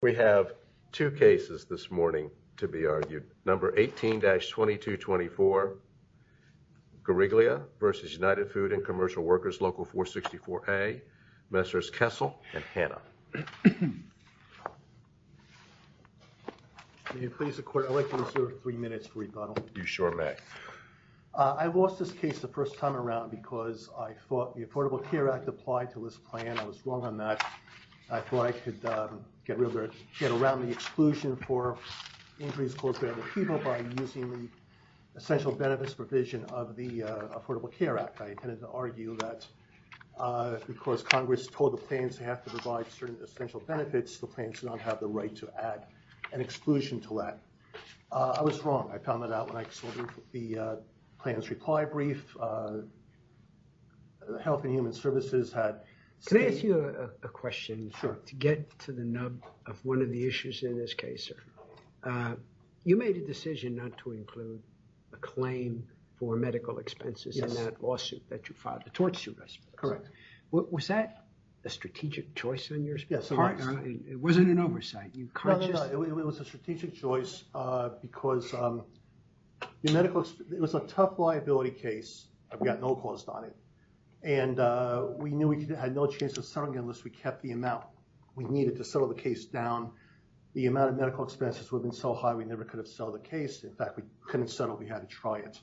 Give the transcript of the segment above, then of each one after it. We have two cases this morning to be argued. Number 18-2224, Guariglia v. United Food and Commercial Workers, Local 464A, Messrs. Kessel and Hanna. Can you please, I'd like to reserve three minutes for rebuttal. You sure may. I lost this case the first time around because I thought the Affordable Care Act applied to this plan. I was wrong on that. I thought I could get around the exclusion for injuries caused by other people by using the essential benefits provision of the Affordable Care Act. I intended to argue that because Congress told the plans to have to provide certain essential benefits, the plans do not have the right to add an exclusion to that. I was wrong. I found that out when I saw the plans reply brief. Can I ask you a question to get to the nub of one of the issues in this case, sir? You made a decision not to include a claim for medical expenses in that lawsuit that you filed, the tort suit I suppose. Correct. Was that a strategic choice on your part? It wasn't an oversight. No, it was a strategic choice because the medical, it was a tough liability case that had no cost on it. And we knew we had no chance of settling it unless we kept the amount we needed to settle the case down. The amount of medical expenses would have been so high, we never could have settled the case. In fact, we couldn't settle. We had to try it.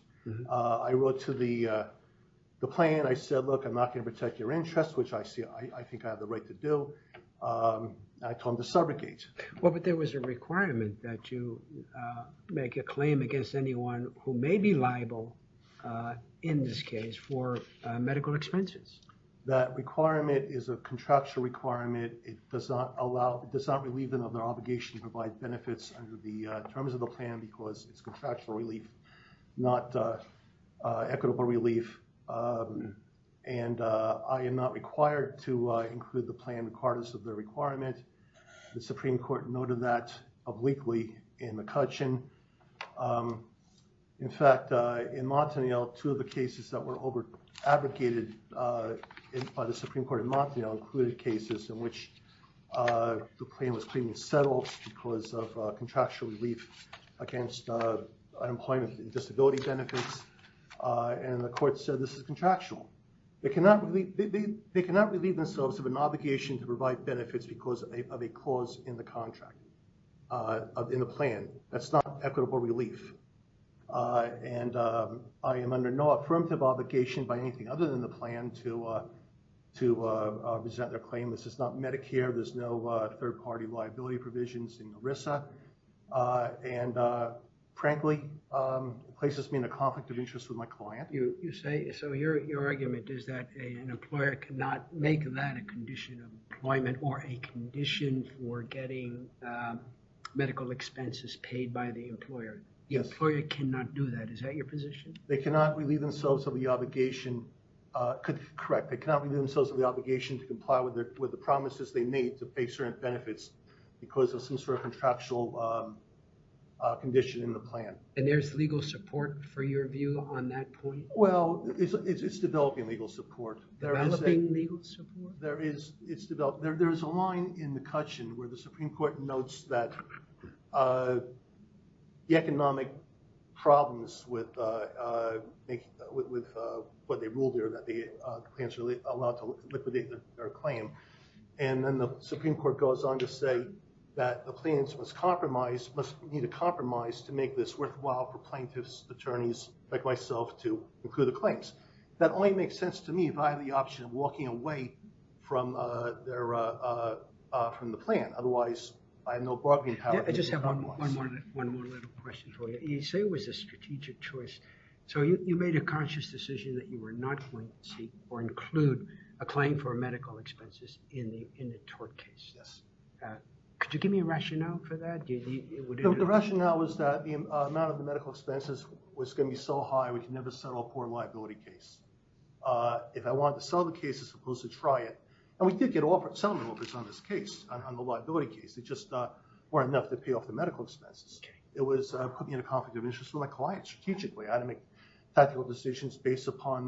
I wrote to the plan. I said, look, I'm not going to protect your interest, which I see, I think I have the right to do. I told them to subrogate. Well, but there was a requirement that you make a claim against anyone who may be liable in this case for medical expenses. That requirement is a contractual requirement. It does not allow, it does not relieve them of their obligation to provide benefits under the terms of the plan because it's contractual relief, not equitable relief. And I am not required to include the plan regardless of the requirement. The Supreme Court noted that obliquely in McCutcheon. In fact, in Montaniel, two of the cases that were over-advocated by the Supreme Court in Montaniel included cases in which the claim was clearly settled because of contractual relief against unemployment and disability benefits. And the court said this is contractual. They cannot relieve themselves of obligation to provide benefits because of a cause in the contract, in the plan. That's not equitable relief. And I am under no affirmative obligation by anything other than the plan to present their claim. This is not Medicare. There's no third-party liability provisions in ERISA. And frankly, places me in a conflict of interest with my client. So your argument is that an employer cannot make that a condition of employment or a condition for getting medical expenses paid by the employer. The employer cannot do that. Is that your position? They cannot relieve themselves of the obligation. Correct. They cannot relieve themselves of the obligation to comply with the promises they made to pay certain benefits because of some sort of contractual condition in the plan. And there's legal support for your view on that point? Well, it's developing legal support. Developing legal support? There is. It's developed. There's a line in the cushion where the Supreme Court notes that the economic problems with what they ruled are that the plans are allowed to liquidate their claim. And then the Supreme Court goes on to say that the plans must compromise, must need a compromise to make this worthwhile for plaintiffs, attorneys, like myself, to include the claims. That only makes sense to me if I have the option of walking away from the plan. Otherwise, I have no bargaining power. I just have one more little question for you. You say it was a strategic choice. So you made a conscious decision that you were not going to seek or include a claim for a medical expenses in the tort case. Yes. Could you give me a rationale for that? The rationale was that the amount of the medical expenses was going to be so high we could never settle a poor liability case. If I wanted to sell the case as opposed to try it, and we did get settlement offers on this case, on the liability case. They just weren't enough to pay off the medical expenses. It was putting me in a conflict of interest for my clients strategically. I had to make tactical decisions based upon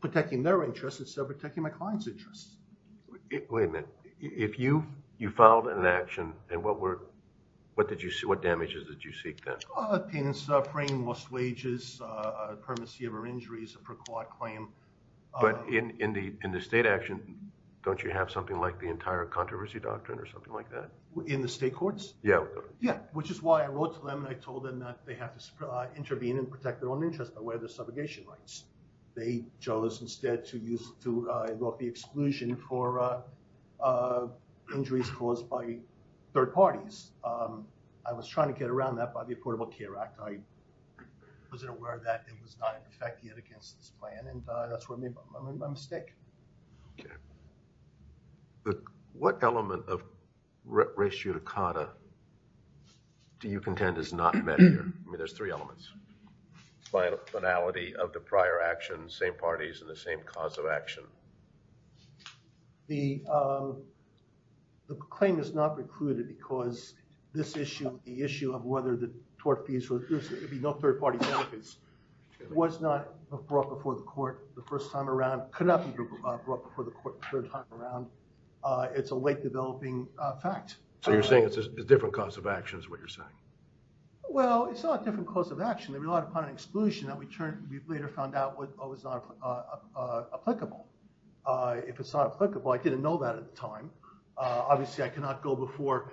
protecting their interests instead of protecting my clients interests. Wait a minute. If you filed an action, what damages did you seek then? Payments for paying lost wages, a permanency of our injuries, a pre-court claim. But in the state action, don't you have something like the entire controversy doctrine or something like that? In the state courts? Yeah. Which is why I wrote to them and I told them that they have to intervene and protect their own interests by way of their subrogation rights. They chose instead to use the exclusion for injuries caused by third parties. I was trying to get around that by the Affordable Care Act. I wasn't aware that it was not in effect yet against this plan and that's where I made my mistake. Okay. But what element of ratio to CADA do you contend is not there? I mean there's three elements. Finality of the prior action, same parties and the same cause of action. The claim is not recruited because this issue, the issue of whether the tort fees would be no third party benefits was not brought before the court the first time around, could not be brought before the court the third time around. It's a late developing fact. So you're different cause of action is what you're saying? Well it's not a different cause of action. They relied upon an exclusion that we later found out was not applicable. If it's not applicable, I didn't know that at the time. Obviously I could not go before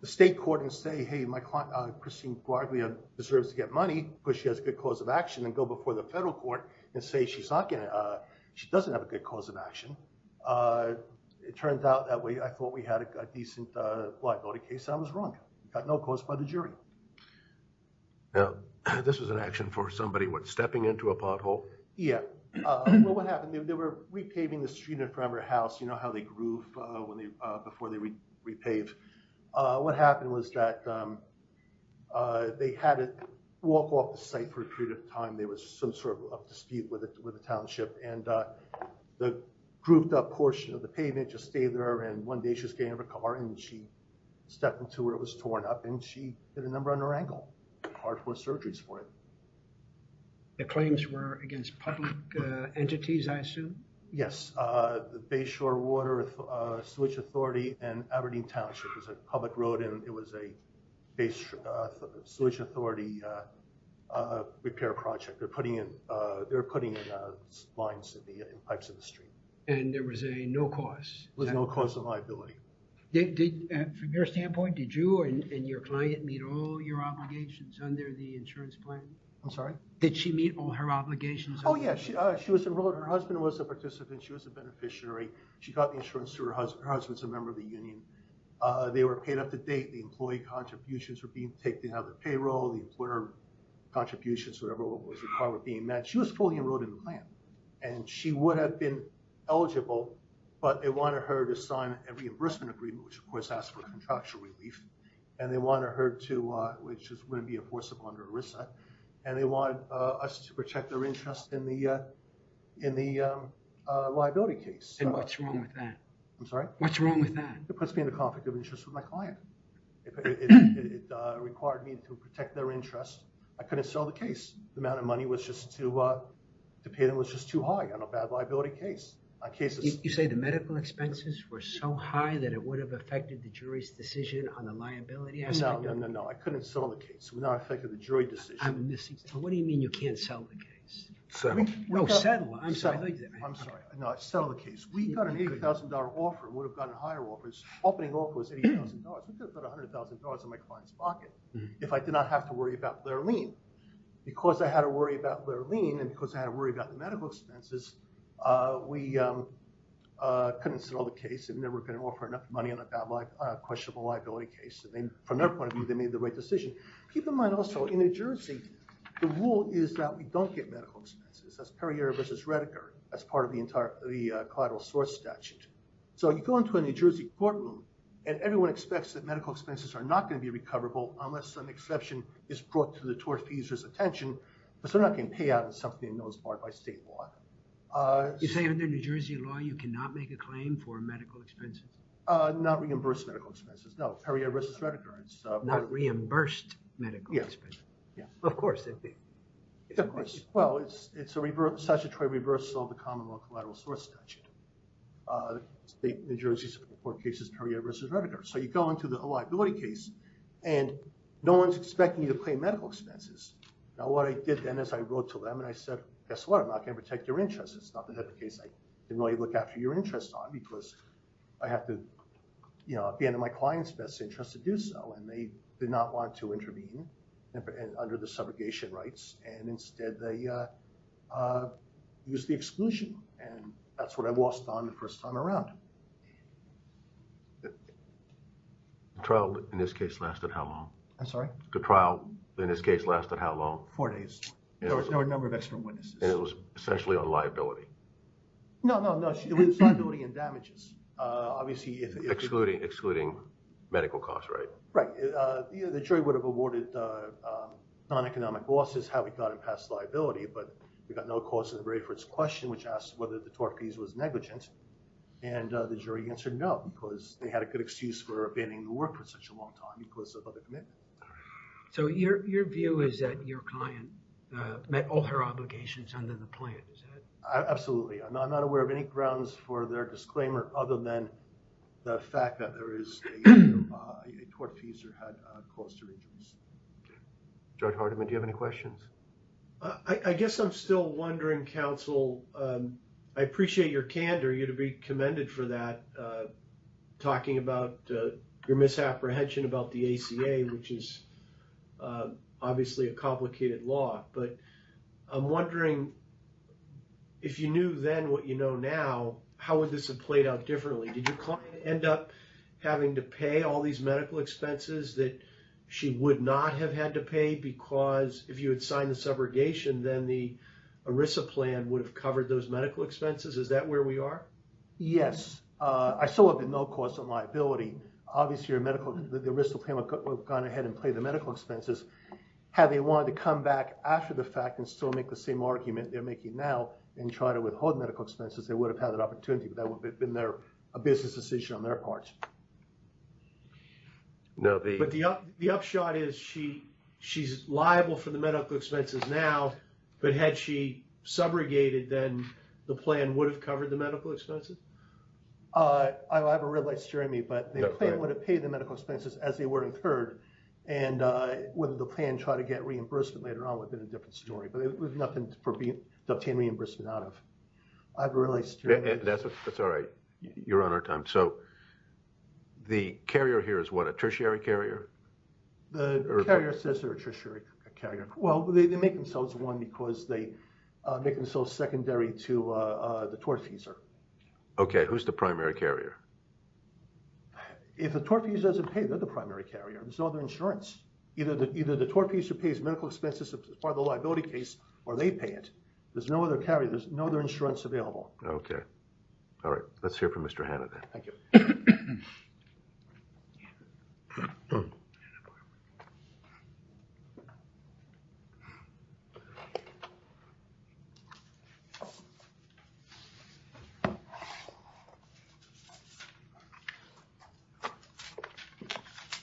the state court and say, hey my client Christine Guardia deserves to get money because she has a good cause of action and go before the federal court and say she's not going to, she doesn't have a good cause of action. It turned out that way. I thought we had a decent liability case. I was wrong. Got no cause by the jury. Now this was an action for somebody what stepping into a pothole? Yeah. Well what happened, they were repaving the street in front of her house. You know how they groove when they, before they repave. What happened was that they had it walk off the site for a period of time. There was some sort of dispute with the township and the grouped up portion of the pavement just stayed there and one day she was getting out of a car and she stepped into where it was torn up and she hit a number on her ankle. Hard for surgeries for it. The claims were against public entities I assume? Yes. The Bayshore Water Sewage Authority and Aberdeen Township was a public road and it was a Bayshore Sewage Authority repair project. They're putting in lines and pipes in the street. And there was a no cause? There was no cause of liability. From your standpoint did you and your client meet all your obligations under the insurance plan? I'm sorry? Did she meet all her obligations? Oh yeah. She was enrolled. Her husband was a participant. She was a beneficiary. She got the insurance through her husband. Her husband's a member of the union. They were paid up to date. The employee contributions were being taken out of the payroll. The employer contributions whatever was required were being met. She was fully enrolled in the plan and she would have been eligible but they wanted her to sign a reimbursement agreement which of course asked for contractual relief and they wanted her to which wouldn't be enforceable under ERISA and they wanted us to protect their interest in the liability case. And what's wrong with that? It puts me in a conflict of interest with my client. It required me to protect their interest. I couldn't sell the case. The amount of money was just too uh, to pay them was just too high on a bad liability case. You say the medical expenses were so high that it would have affected the jury's decision on the liability? No, no, no, no. I couldn't sell the case. It would not have affected the jury decision. I'm missing something. What do you mean you can't sell the case? Settle. No, settle. I'm sorry. I'm sorry. No, settle the case. We got an $8,000 offer, would have gotten higher offers. Opening off was $80,000. I think there's about $100,000 in my client's pocket if I did not have to worry about their lien. Because I had to worry about their lien and because I had to worry about the medical expenses, we couldn't sell the case and they were going to offer enough money on a questionable liability case and then from their point of view they made the right decision. Keep in mind also in New Jersey the rule is that we don't get medical expenses. That's Perrier versus Redeker. That's part of the collateral source statute. So you go into a New Jersey courtroom and everyone expects that medical expenses are not going to be recoverable unless some exception is brought to the tortfeasor's attention, but they're not going to pay out on something that's followed by state law. You say under New Jersey law you cannot make a claim for medical expenses? Not reimbursed medical expenses. No, Perrier versus statutory reversal of the common law collateral source statute. State New Jersey support cases Perrier versus Redeker. So you go into the liability case and no one's expecting you to pay medical expenses. Now what I did then is I wrote to them and I said guess what? I'm not going to protect your interests. It's not the type of case I didn't really look after your interests on because I have to, you know, be in my client's best interest to do so and they did not want to intervene and under the subrogation rights and instead they used the exclusion and that's what I lost on the first time around. The trial in this case lasted how long? I'm sorry? The trial in this case lasted how long? Four days. There were a number of extra witnesses. And it was essentially on liability? No, no, no. It was liability and damages. Obviously, excluding medical costs, right? Right. The jury would have awarded non-economic losses, how we got it past liability, but we got no cause to the very first question which asked whether the tort fees was negligent and the jury answered no because they had a good excuse for abandoning the work for such a long time because of other commitments. So your view is that your client met all her obligations under the plan, is that it? Absolutely. I'm not aware of any grounds for their disclaimer other than the fact that there is a tort fees or had a cost to reasons. Judge Hardiman, do you have any questions? I guess I'm still wondering, counsel. I appreciate your candor. You'd be commended for that, talking about your misapprehension about the ACA, which is obviously a complicated law, but I'm wondering if you knew then what you know now, how would this have played out differently? Did your client end up having to pay all these medical expenses that she would not have had to pay because if you had signed the subrogation, then the ERISA plan would have covered those medical expenses? Is that where we are? Yes. I still have no cause of liability. Obviously, the ERISA plan would have gone ahead and paid the medical expenses. Had they wanted to come back after the fact and still make the same argument they're making now and try to withhold medical expenses, they would have had opportunity, but that would have been a business decision on their part. But the upshot is she's liable for the medical expenses now, but had she subrogated, then the plan would have covered the medical expenses? I have a red light steering me, but the plan would have paid the medical expenses as they were incurred, and would the plan try to get reimbursement later on would have been a different story, but it was nothing to obtain reimbursement out of. I have a red light steering me. That's all right. You're on our time. So the carrier here is what, a tertiary carrier? The carrier says they're a tertiary carrier. Well, they make themselves one because they make themselves secondary to the tortfeasor. Okay, who's the primary carrier? If the tortfeasor doesn't pay, they're the primary carrier. There's no other insurance. Either the tortfeasor pays medical or they pay it. There's no other carrier. There's no other insurance available. Okay. All right. Let's hear from Mr. Hanna then.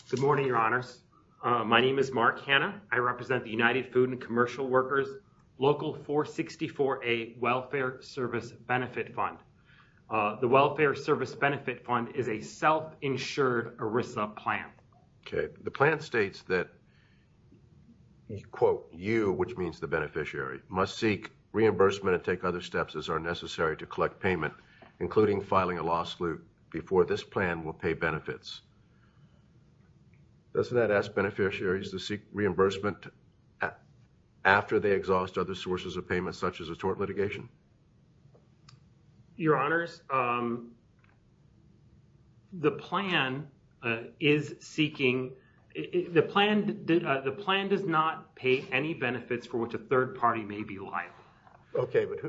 Good morning, your honors. My name is Mark Hanna. I represent the United Food and Commercial Workers Local 464A Welfare Service Benefit Fund. The Welfare Service Benefit Fund is a self-insured ERISA plan. Okay. The plan states that, quote, you, which means the beneficiary, must seek reimbursement and take other steps as are necessary to collect payment, including filing a law slute before this plan will pay benefits. Doesn't that ask beneficiaries to seek reimbursement after they exhaust other sources of payment, such as a tort litigation? Your honors, the plan does not pay any benefits for which a third party may be liable. Okay, but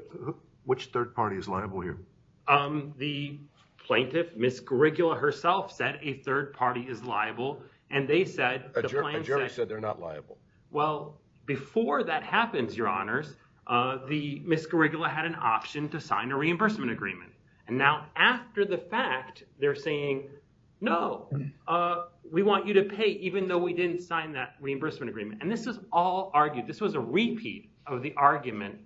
which third party is liable here? The plaintiff, Ms. Garigula herself, said a third party is liable, and they said- A jury said they're not liable. Well, before that happens, your honors, Ms. Garigula had an option to sign a reimbursement agreement. Now, after the fact, they're saying, no, we want you to pay even though we didn't sign that reimbursement agreement. This is all argued. This was a repeat of the argument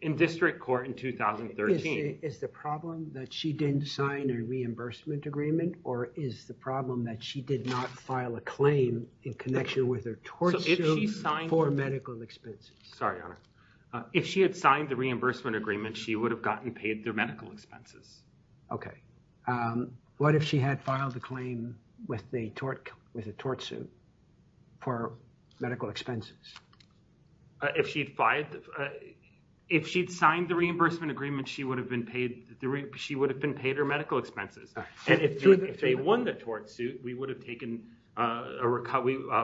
in district court in 2013. Is the problem that she didn't sign a reimbursement agreement, or is the problem that she did not file a claim in connection with her tort suit for medical expenses? Sorry, your honor. If she had signed the reimbursement agreement, she would have gotten paid their medical expenses. Okay. What if she had filed the claim with a tort suit for medical expenses? If she'd signed the reimbursement agreement, she would have been paid her medical expenses. If they won the tort suit, we would have taken a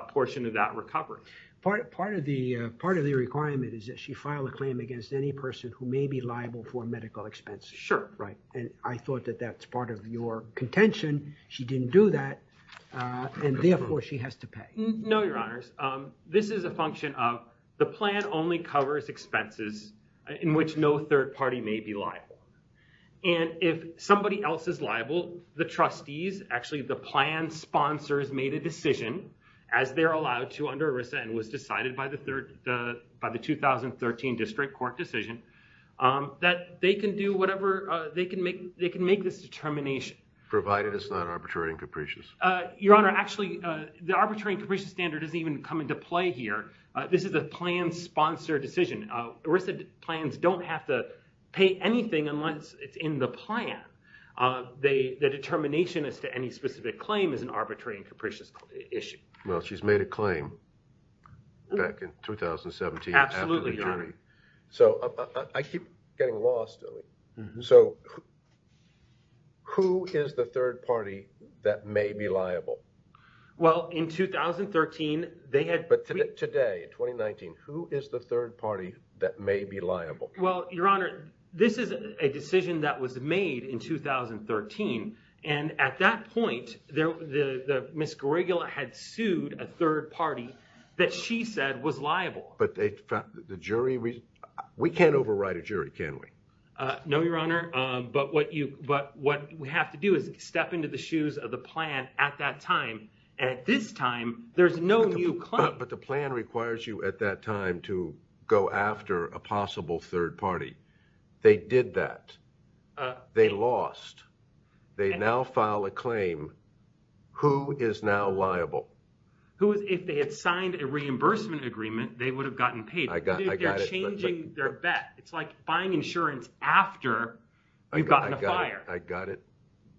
portion of that recovery. Part of the requirement is that she filed a claim against any person who may be liable for medical expenses. Sure. Right, and I thought that that's part of your contention. She didn't do that, and therefore, she has to pay. No, your honors. This is a function of the plan only covers expenses in which no third party may be liable. If somebody else is liable, the trustees, actually the plan sponsors, made a decision, as they're allowed to under ERISA and was decided by the 2013 district court decision, that they can do whatever... They can make this determination. Provided it's not arbitrary and capricious. Your honor, actually, the arbitrary and capricious standard doesn't even come into play here. This is a plan sponsor decision. ERISA plans don't have to pay anything unless it's in the plan. The determination as to any specific claim is an arbitrary and capricious issue. Well, she's made a claim back in 2017. Absolutely, your honor. After the jury. So, I keep getting lost. So, who is the third party that may be liable? Well, in 2013, they had... But today, in 2019, who is the third party that may be liable? Well, your honor, this is a decision that was made in 2013, and at that point, Ms. Grigola had sued a third party that she said was liable. But the jury... We can't overwrite a jury, can we? No, your honor, but what we have to do is step into the shoes of the plan at that time. At this time, there's no new claim. But the plan requires you at that time to go after a possible third party. They did that. They lost. They now file a claim. Who is now liable? If they had signed a reimbursement agreement, they would have gotten paid. I got it. They're changing their bet. It's like buying insurance after you've gotten a buyer. I got it.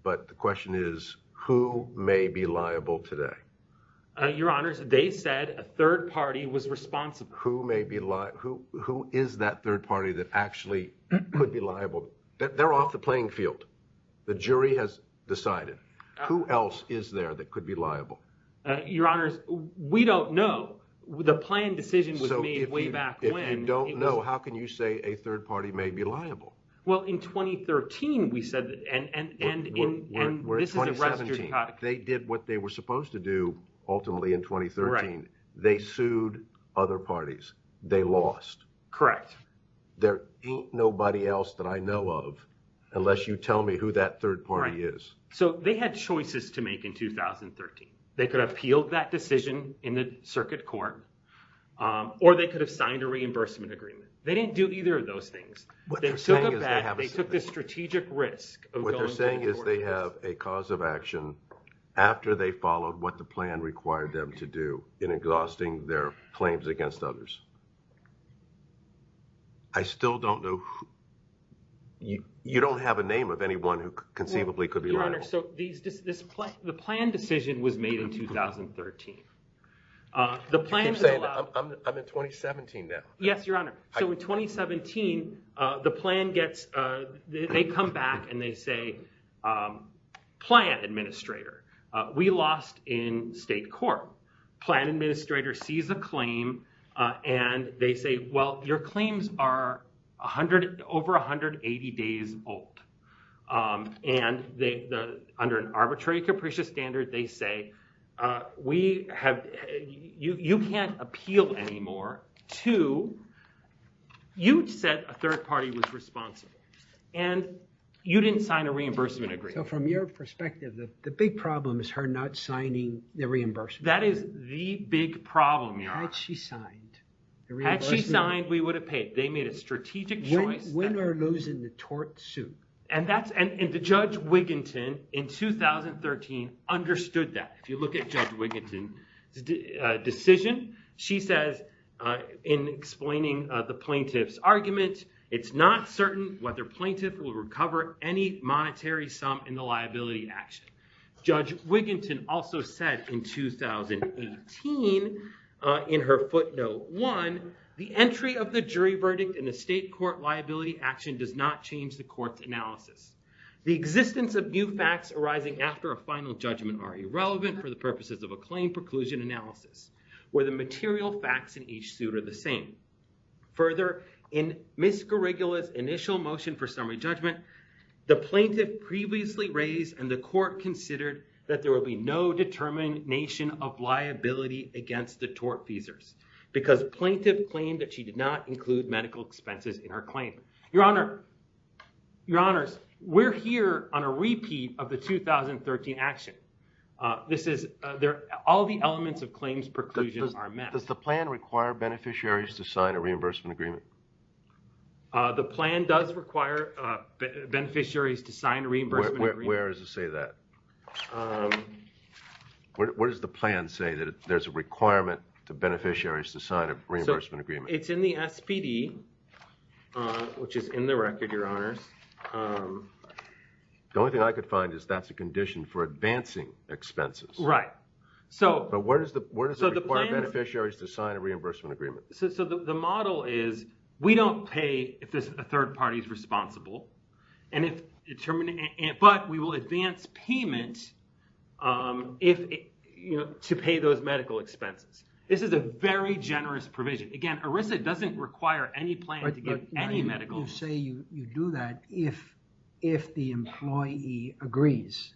But the question is, who may be liable today? Your honor, they said a third party was liable. Who is that third party that actually could be liable? They're off the playing field. The jury has decided. Who else is there that could be liable? Your honors, we don't know. The plan decision was made way back when. So if you don't know, how can you say a third party may be liable? Well, in 2013, we said... We're in 2017. They did what they were supposed to do ultimately in 2013. They sued other parties. They lost. Correct. There ain't nobody else that I know of unless you tell me who that third party is. Right. So they had choices to make in 2013. They could have appealed that decision in the circuit court, or they could have signed a reimbursement agreement. They didn't do either of those things. What they're saying is they have a... They took a strategic risk of going... What they're saying is they have a cause of action after they followed what the plan required them to do in exhausting their claims against others. I still don't know... You don't have a name of anyone who conceivably could be liable. Your honor, so the plan decision was made in 2013. The plan is allowed... I'm in 2017 now. Yes, your honor. So in 2017, the plan gets... They come back, and they say, plan administrator, we lost in state court. Plan administrator sees a claim, and they say, well, your claims are over 180 days old. Under an arbitrary capricious standard, they say, you can't appeal anymore to... You said a third party was responsible, and you didn't sign a reimbursement agreement. So from your perspective, the big problem is her not signing the reimbursement agreement. That is the big problem, your honor. Had she signed the reimbursement agreement... Had she signed, we would have paid. They made a strategic choice that... When are those in the tort suit? The Judge Wiginton in 2013 understood that. If you look at Judge Wiginton's decision, she says in explaining the plaintiff's argument, it's not certain whether plaintiff will recover any monetary sum in the liability action. Judge Wiginton also said in 2018 in her footnote one, the entry of the jury verdict in a state court liability action does not change the court's analysis. The existence of new facts arising after a final judgment are irrelevant for the purposes of a claim preclusion analysis, where the material facts in each suit are the same. Further, in Ms. Garigula's initial motion for summary judgment, the plaintiff previously raised and the court considered that there will be no determination of liability against the tort feasors because plaintiff claimed that she did not include medical expenses in her claim. Your Honor, we're here on a repeat of the 2013 action. All the elements of claims preclusion are met. Does the plan require beneficiaries to sign a reimbursement agreement? The plan does require beneficiaries to sign a reimbursement agreement. Where does it say that? Where does the plan say that there's a requirement to beneficiaries to sign a reimbursement agreement? It's in the SPD. Which is in the record, Your Honors. The only thing I could find is that's a condition for advancing expenses. Right. But where does it require beneficiaries to sign a reimbursement agreement? So the model is we don't pay if a third party is responsible, but we will advance payment to pay those medical expenses. This is a very generous provision. Again, ERISA doesn't require any plan to give any medical... You say you do that if the employee agrees.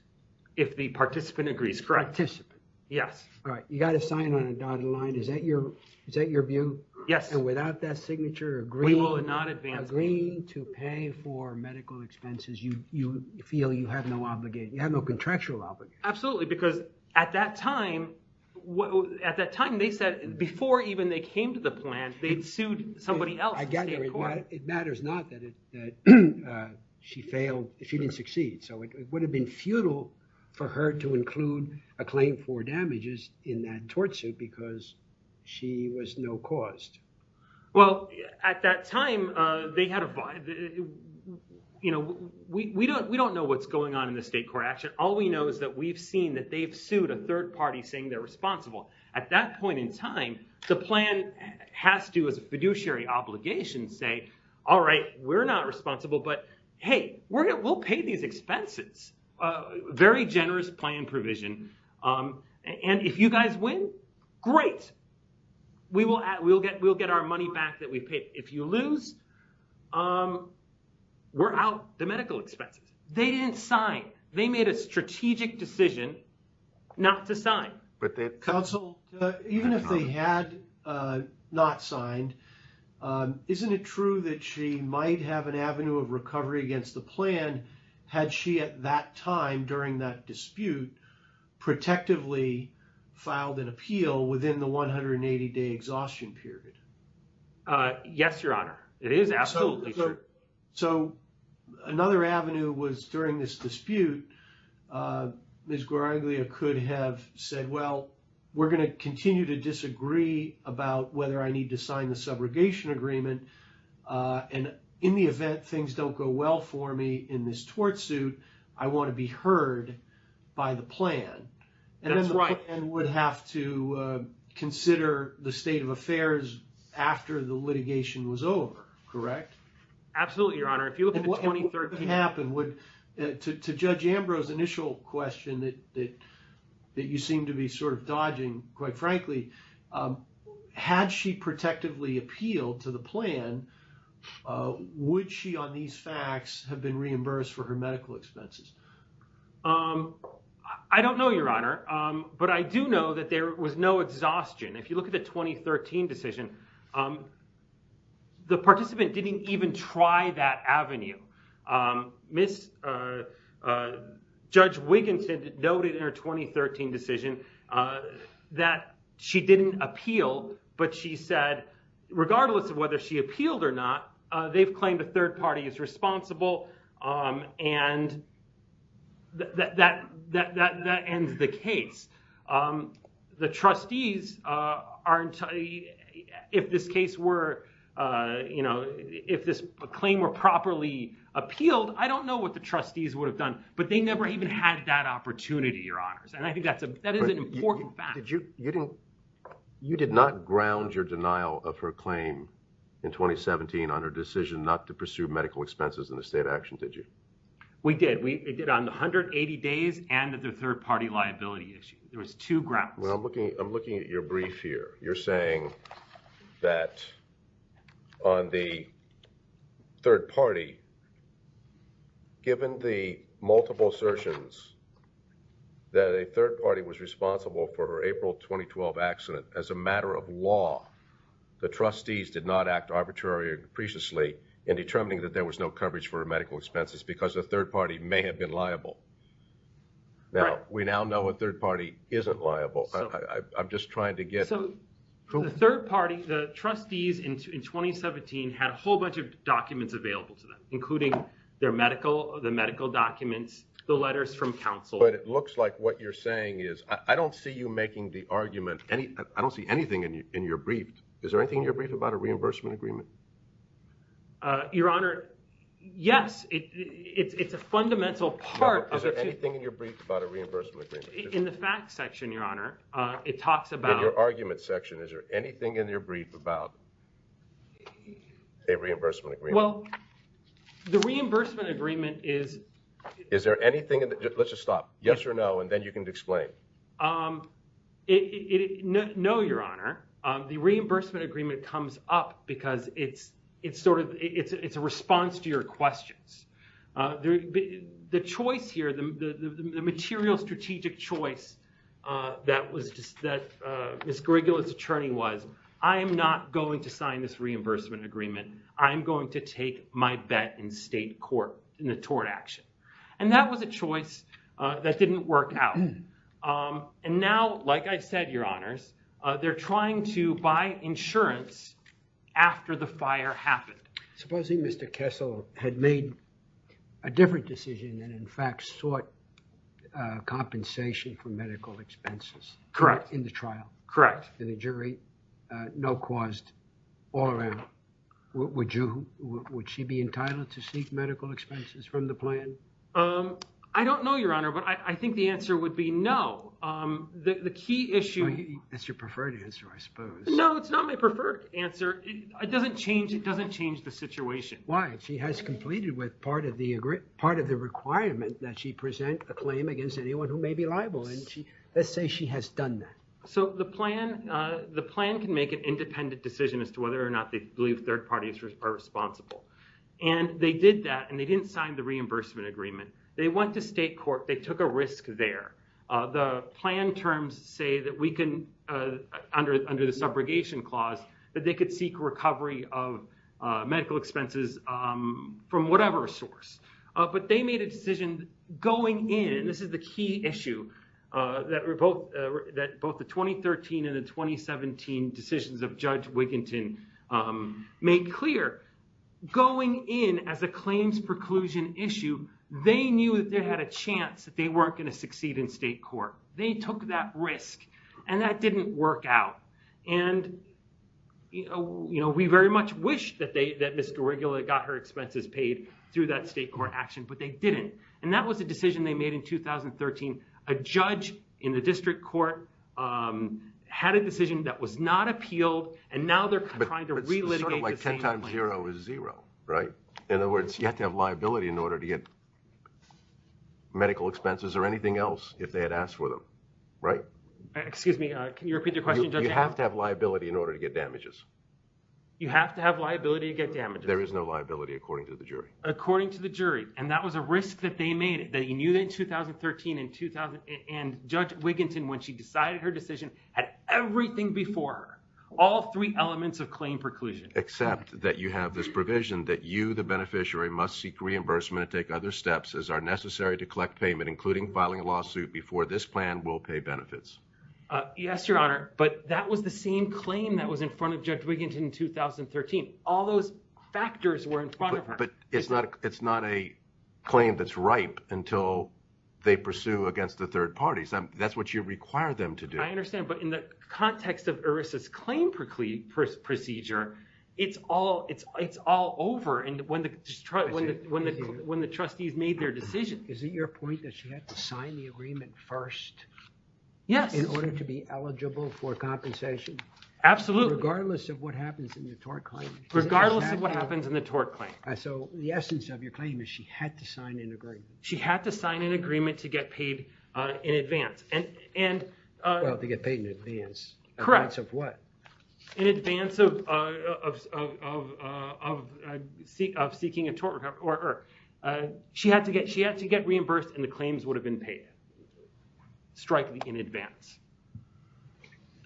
If the participant agrees, correct? Participant. Yes. Right. You got to sign on a dotted line. Is that your view? Yes. And without that signature agreeing to pay for medical expenses, you feel you have no obligation. You have no contractual obligation. Absolutely. Because at that time, they said somebody else... It matters not that she failed, she didn't succeed. So it would have been futile for her to include a claim for damages in that tort suit because she was no cause. Well, at that time, we don't know what's going on in the state court action. All we know is that we've seen that they've sued a third party saying they're responsible. At that point in time, the plan has to, as a obligation, say, all right, we're not responsible, but hey, we'll pay these expenses. Very generous plan provision. And if you guys win, great. We'll get our money back that we paid. If you lose, we're out the medical expenses. They didn't sign. They made a strategic decision not to sign. Counsel, even if they had not signed, isn't it true that she might have an avenue of recovery against the plan had she at that time, during that dispute, protectively filed an appeal within the 180-day exhaustion period? Yes, Your Honor. It is, absolutely. So another avenue was during this dispute, Ms. Guaraglia could have said, well, we're going to continue to disagree about whether I need to sign the subrogation agreement. And in the event things don't go well for me in this tort suit, I want to be heard by the plan. That's right. And then the plan would have to consider the state of affairs after the litigation was over, correct? Absolutely, Your Honor. If you look at Judge Ambrose's initial question that you seem to be sort of dodging, quite frankly, had she protectively appealed to the plan, would she on these facts have been reimbursed for her medical expenses? I don't know, Your Honor. But I do know that there was no exhaustion. If you Judge Wiggins had noted in her 2013 decision that she didn't appeal, but she said, regardless of whether she appealed or not, they've claimed a third party is responsible. And that ends the case. The trustees aren't, if this case were, if this claim were properly appealed, I don't know what the trustees would have done. But they never even had that opportunity, Your Honors. And I think that is an important fact. You did not ground your denial of her claim in 2017 on her decision not to pursue medical expenses in the state of action, did you? We did. We did on the 180 days and the third party liability issue. There was two grounds. I'm looking at your brief here. You're saying that on the third party, given the multiple assertions that a third party was responsible for her April 2012 accident, as a matter of law, the trustees did not act arbitrarily or depreciately in determining that there was no coverage for her medical expenses because the third party may have been liable. Now, we now know a third party isn't liable. I'm just trying to get the third party, the trustees in 2017 had a whole bunch of documents available to them, including their medical, the medical documents, the letters from counsel. But it looks like what you're saying is I don't see you making the argument. I don't see anything in your brief. Is there anything in your brief about a reimbursement agreement? Your Honor, yes. It's a fundamental part. Is there anything in your brief about a Is there anything in your brief about a reimbursement agreement? Well, the reimbursement agreement is... Is there anything... Let's just stop. Yes or no, and then you can explain. No, Your Honor. The reimbursement agreement comes up because it's a response to your questions. The choice here, the material strategic choice that Ms. Grigola's attorney was, I am not going to sign this reimbursement agreement. I'm going to take my bet in state court in the tort action. And that was a choice that didn't work out. And now, like I said, Your Honors, they're trying to buy insurance after the fire happened. Supposing Mr. Kessel had made a different decision and, in fact, sought compensation for medical expenses. Correct. In the trial. Correct. And the jury no-caused all around. Would she be entitled to seek medical expenses from the plan? I don't know, Your Honor, but I think the answer would be no. The key issue... That's your preferred answer, I suppose. No, it's not my preferred answer. It doesn't change the situation. Why? She has completed with part of the requirement that she present a claim against anyone who may be liable. And let's say she has done that. So the plan can make an independent decision as to whether or not they believe third parties are responsible. And they did that, and they didn't sign the reimbursement agreement. They went to state court. They took a risk there. The plan terms say that we can, under the subrogation clause, that they could seek recovery of medical expenses from whatever source. But they made a decision going in, and this is the key issue, that both the 2013 and the 2017 decisions of Judge Wiginton made clear. Going in as a claims preclusion issue, they knew that they had a chance that they weren't going to succeed in state court. They took that risk, and that didn't work out. And we very much wish that Ms. Garigula got her expenses paid through that state court action, but they didn't. And that was a decision they made in 2013. A judge in the district court had a decision that was not appealed, and now they're trying to relitigate the same claim. But it's sort of like 10 times zero is zero, right? In other words, you have to have liability in order to get medical expenses or anything else if they had asked for them, right? Excuse me, can you repeat your question? You have to have liability in order to get damages. You have to have liability to get damages. There is no liability, according to the jury. According to the jury. And that was a risk that they made, that you knew that in 2013 and Judge Wiginton, when she decided her decision, had everything before her, all three elements of claim preclusion. Except that you have this provision that you, the beneficiary, must seek reimbursement and take other steps as are necessary to collect payment, including filing a lawsuit before this plan will pay benefits. Yes, Your Honor. But that was the same claim that was in front of Judge Wiginton in 2013. All those factors were in front of her. But it's not a claim that's ripe until they pursue against the third parties. That's what you require them to do. But in the context of ERISA's claim procedure, it's all over when the trustees made their decision. Is it your point that she had to sign the agreement first in order to be eligible for compensation? Absolutely. Regardless of what happens in the tort claim? Regardless of what happens in the tort claim. So the essence of your claim is she had to sign She had to sign an agreement to get paid in advance. Well, to get paid in advance. In advance of what? In advance of seeking a tort recovery. She had to get reimbursed and the claims would have been paid strikingly in advance.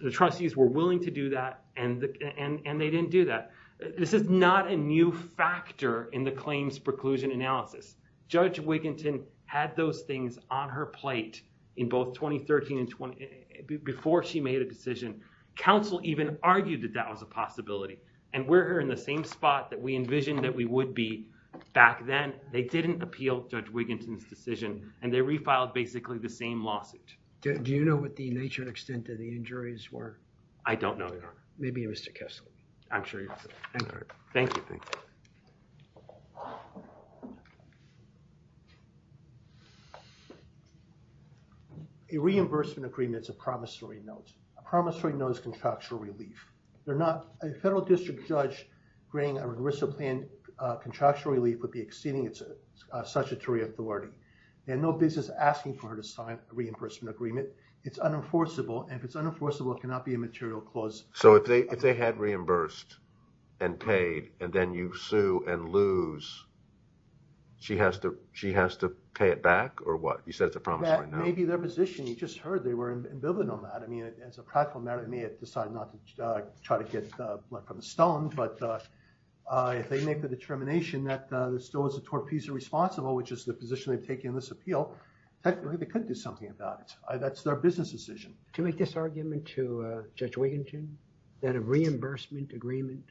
The trustees were willing to do that and they didn't do that. This is not a new factor in the claims preclusion analysis. Judge Wiginton had those things on her plate in both 2013 and before she made a decision. Counsel even argued that that was a possibility. And we're here in the same spot that we envisioned that we would be back then. They didn't appeal Judge Wiginton's decision and they refiled basically the same lawsuit. Do you know what the nature and extent of the injuries were? I don't know, Your Honor. Maybe you're Mr. Kessler. I'm sure you're Mr. Kessler. Thank you. A reimbursement agreement is a promissory note. A promissory note is contractual relief. They're not, a federal district judge granting a regressal plan contractual relief would be exceeding statutory authority. They have no business asking for her to sign a reimbursement agreement. It's unenforceable and if it's unenforceable, it cannot be a material clause. So if they had reimbursed and paid and then you sue and lose, she has to pay it back or what? You said it's a promissory note. That may be their position. You just heard they were ambivalent on that. I mean, as a practical matter, they may have decided not to try to get blood from the stone, but if they make the determination that the stone is the torpezo responsible, which is the position they've taken in this appeal, technically they could do something about it. That's their business decision. To make this argument to Judge Wiginton that a reimbursement agreement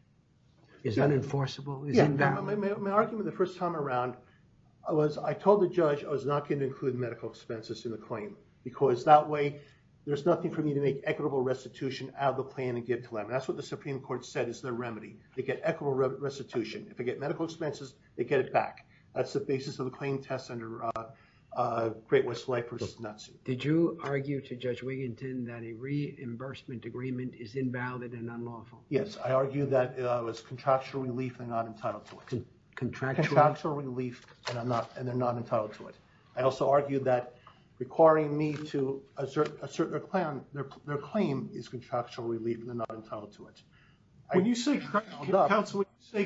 is unenforceable. Yeah, my argument the first time around was I told the judge I was not going to include medical expenses in the claim because that way there's nothing for me to make equitable restitution out of the plan and give to them. That's what the Supreme Court said is the remedy. They get equitable restitution. If they get medical expenses, they get it back. That's the basis of the claim test under Great West Life versus NUTSU. Did you argue to Judge Wiginton that a reimbursement agreement is invalid and unlawful? Yes, I argued that it was contractual relief and not entitled to it. Contractual relief, and they're not entitled to it. I also argued that requiring me to assert their claim is contractual relief, and they're not entitled to it. When you say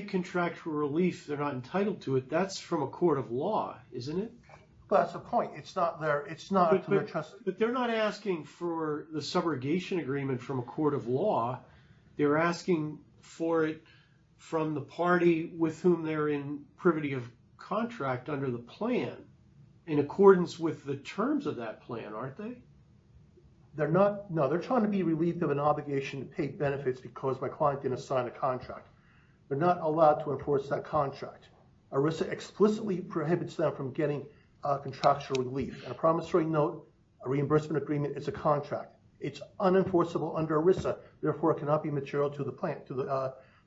contractual relief, they're not entitled to it. That's from a court of law, isn't it? That's the point. It's not from their trust. But they're not asking for the subrogation agreement from a court of law. They're asking for it from the party with whom they're in privity of contract under the plan in accordance with the terms of that plan, aren't they? They're not. No, they're trying to be relieved of an obligation to pay benefits because my client didn't sign a contract. They're not allowed to enforce that contract. ERISA explicitly prohibits them from getting contractual relief. On a promissory note, a reimbursement agreement is a contract. It's unenforceable under ERISA, therefore it cannot be material to the plan,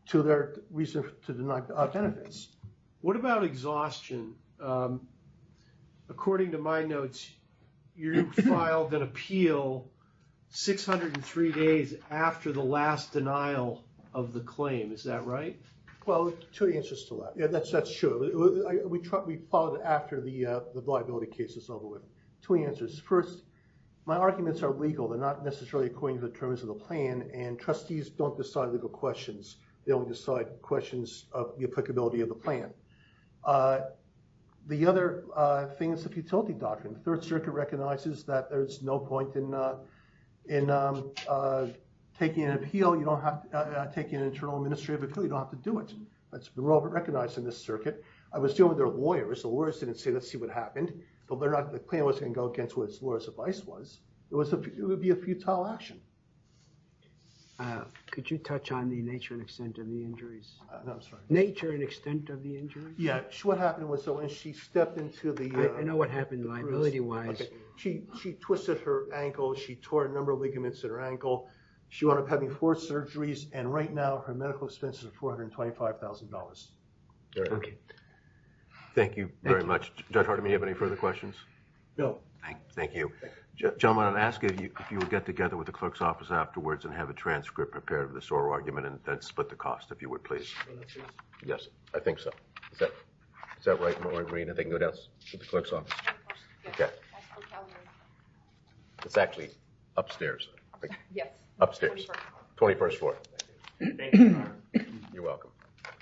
to their reason to deny benefits. What about exhaustion? According to my notes, you filed an appeal 603 days after the last denial of the claim. Is that right? Well, two answers to that. That's true. We filed it after the liability case is over with. Two answers. First, my arguments are legal. They're not necessarily according to the terms of the plan. And trustees don't decide legal questions. They only decide questions of the applicability of the plan. The other thing is the futility doctrine. The Third Circuit recognizes that there's no point in taking an appeal. You don't have to take an internal administrative appeal. You don't have to do it. It's recognized in this circuit. I was dealing with their lawyers. The lawyers didn't say, let's see what happened. But they're not, the claim wasn't going to go against what the lawyer's advice was. It was, it would be a futile action. Could you touch on the nature and extent of the injuries? No, I'm sorry. Nature and extent of the injuries? Yeah, what happened was when she stepped into the... I know what happened liability-wise. She twisted her ankle. She tore a number of ligaments in her ankle. She wound up having four surgeries. And right now, her medical expenses are $425,000. All right. Okay. Thank you very much. Judge Hardiman, do you have any further questions? No. Thank you. Gentlemen, I would ask if you would get together with the clerk's office afterwards and have a transcript prepared of this oral argument and then split the cost, if you would, please. Yes, I think so. Is that right, Maureen? I think no doubts with the clerk's office. It's actually upstairs. Upstairs, 21st floor. Thank you, Your Honor. You're welcome.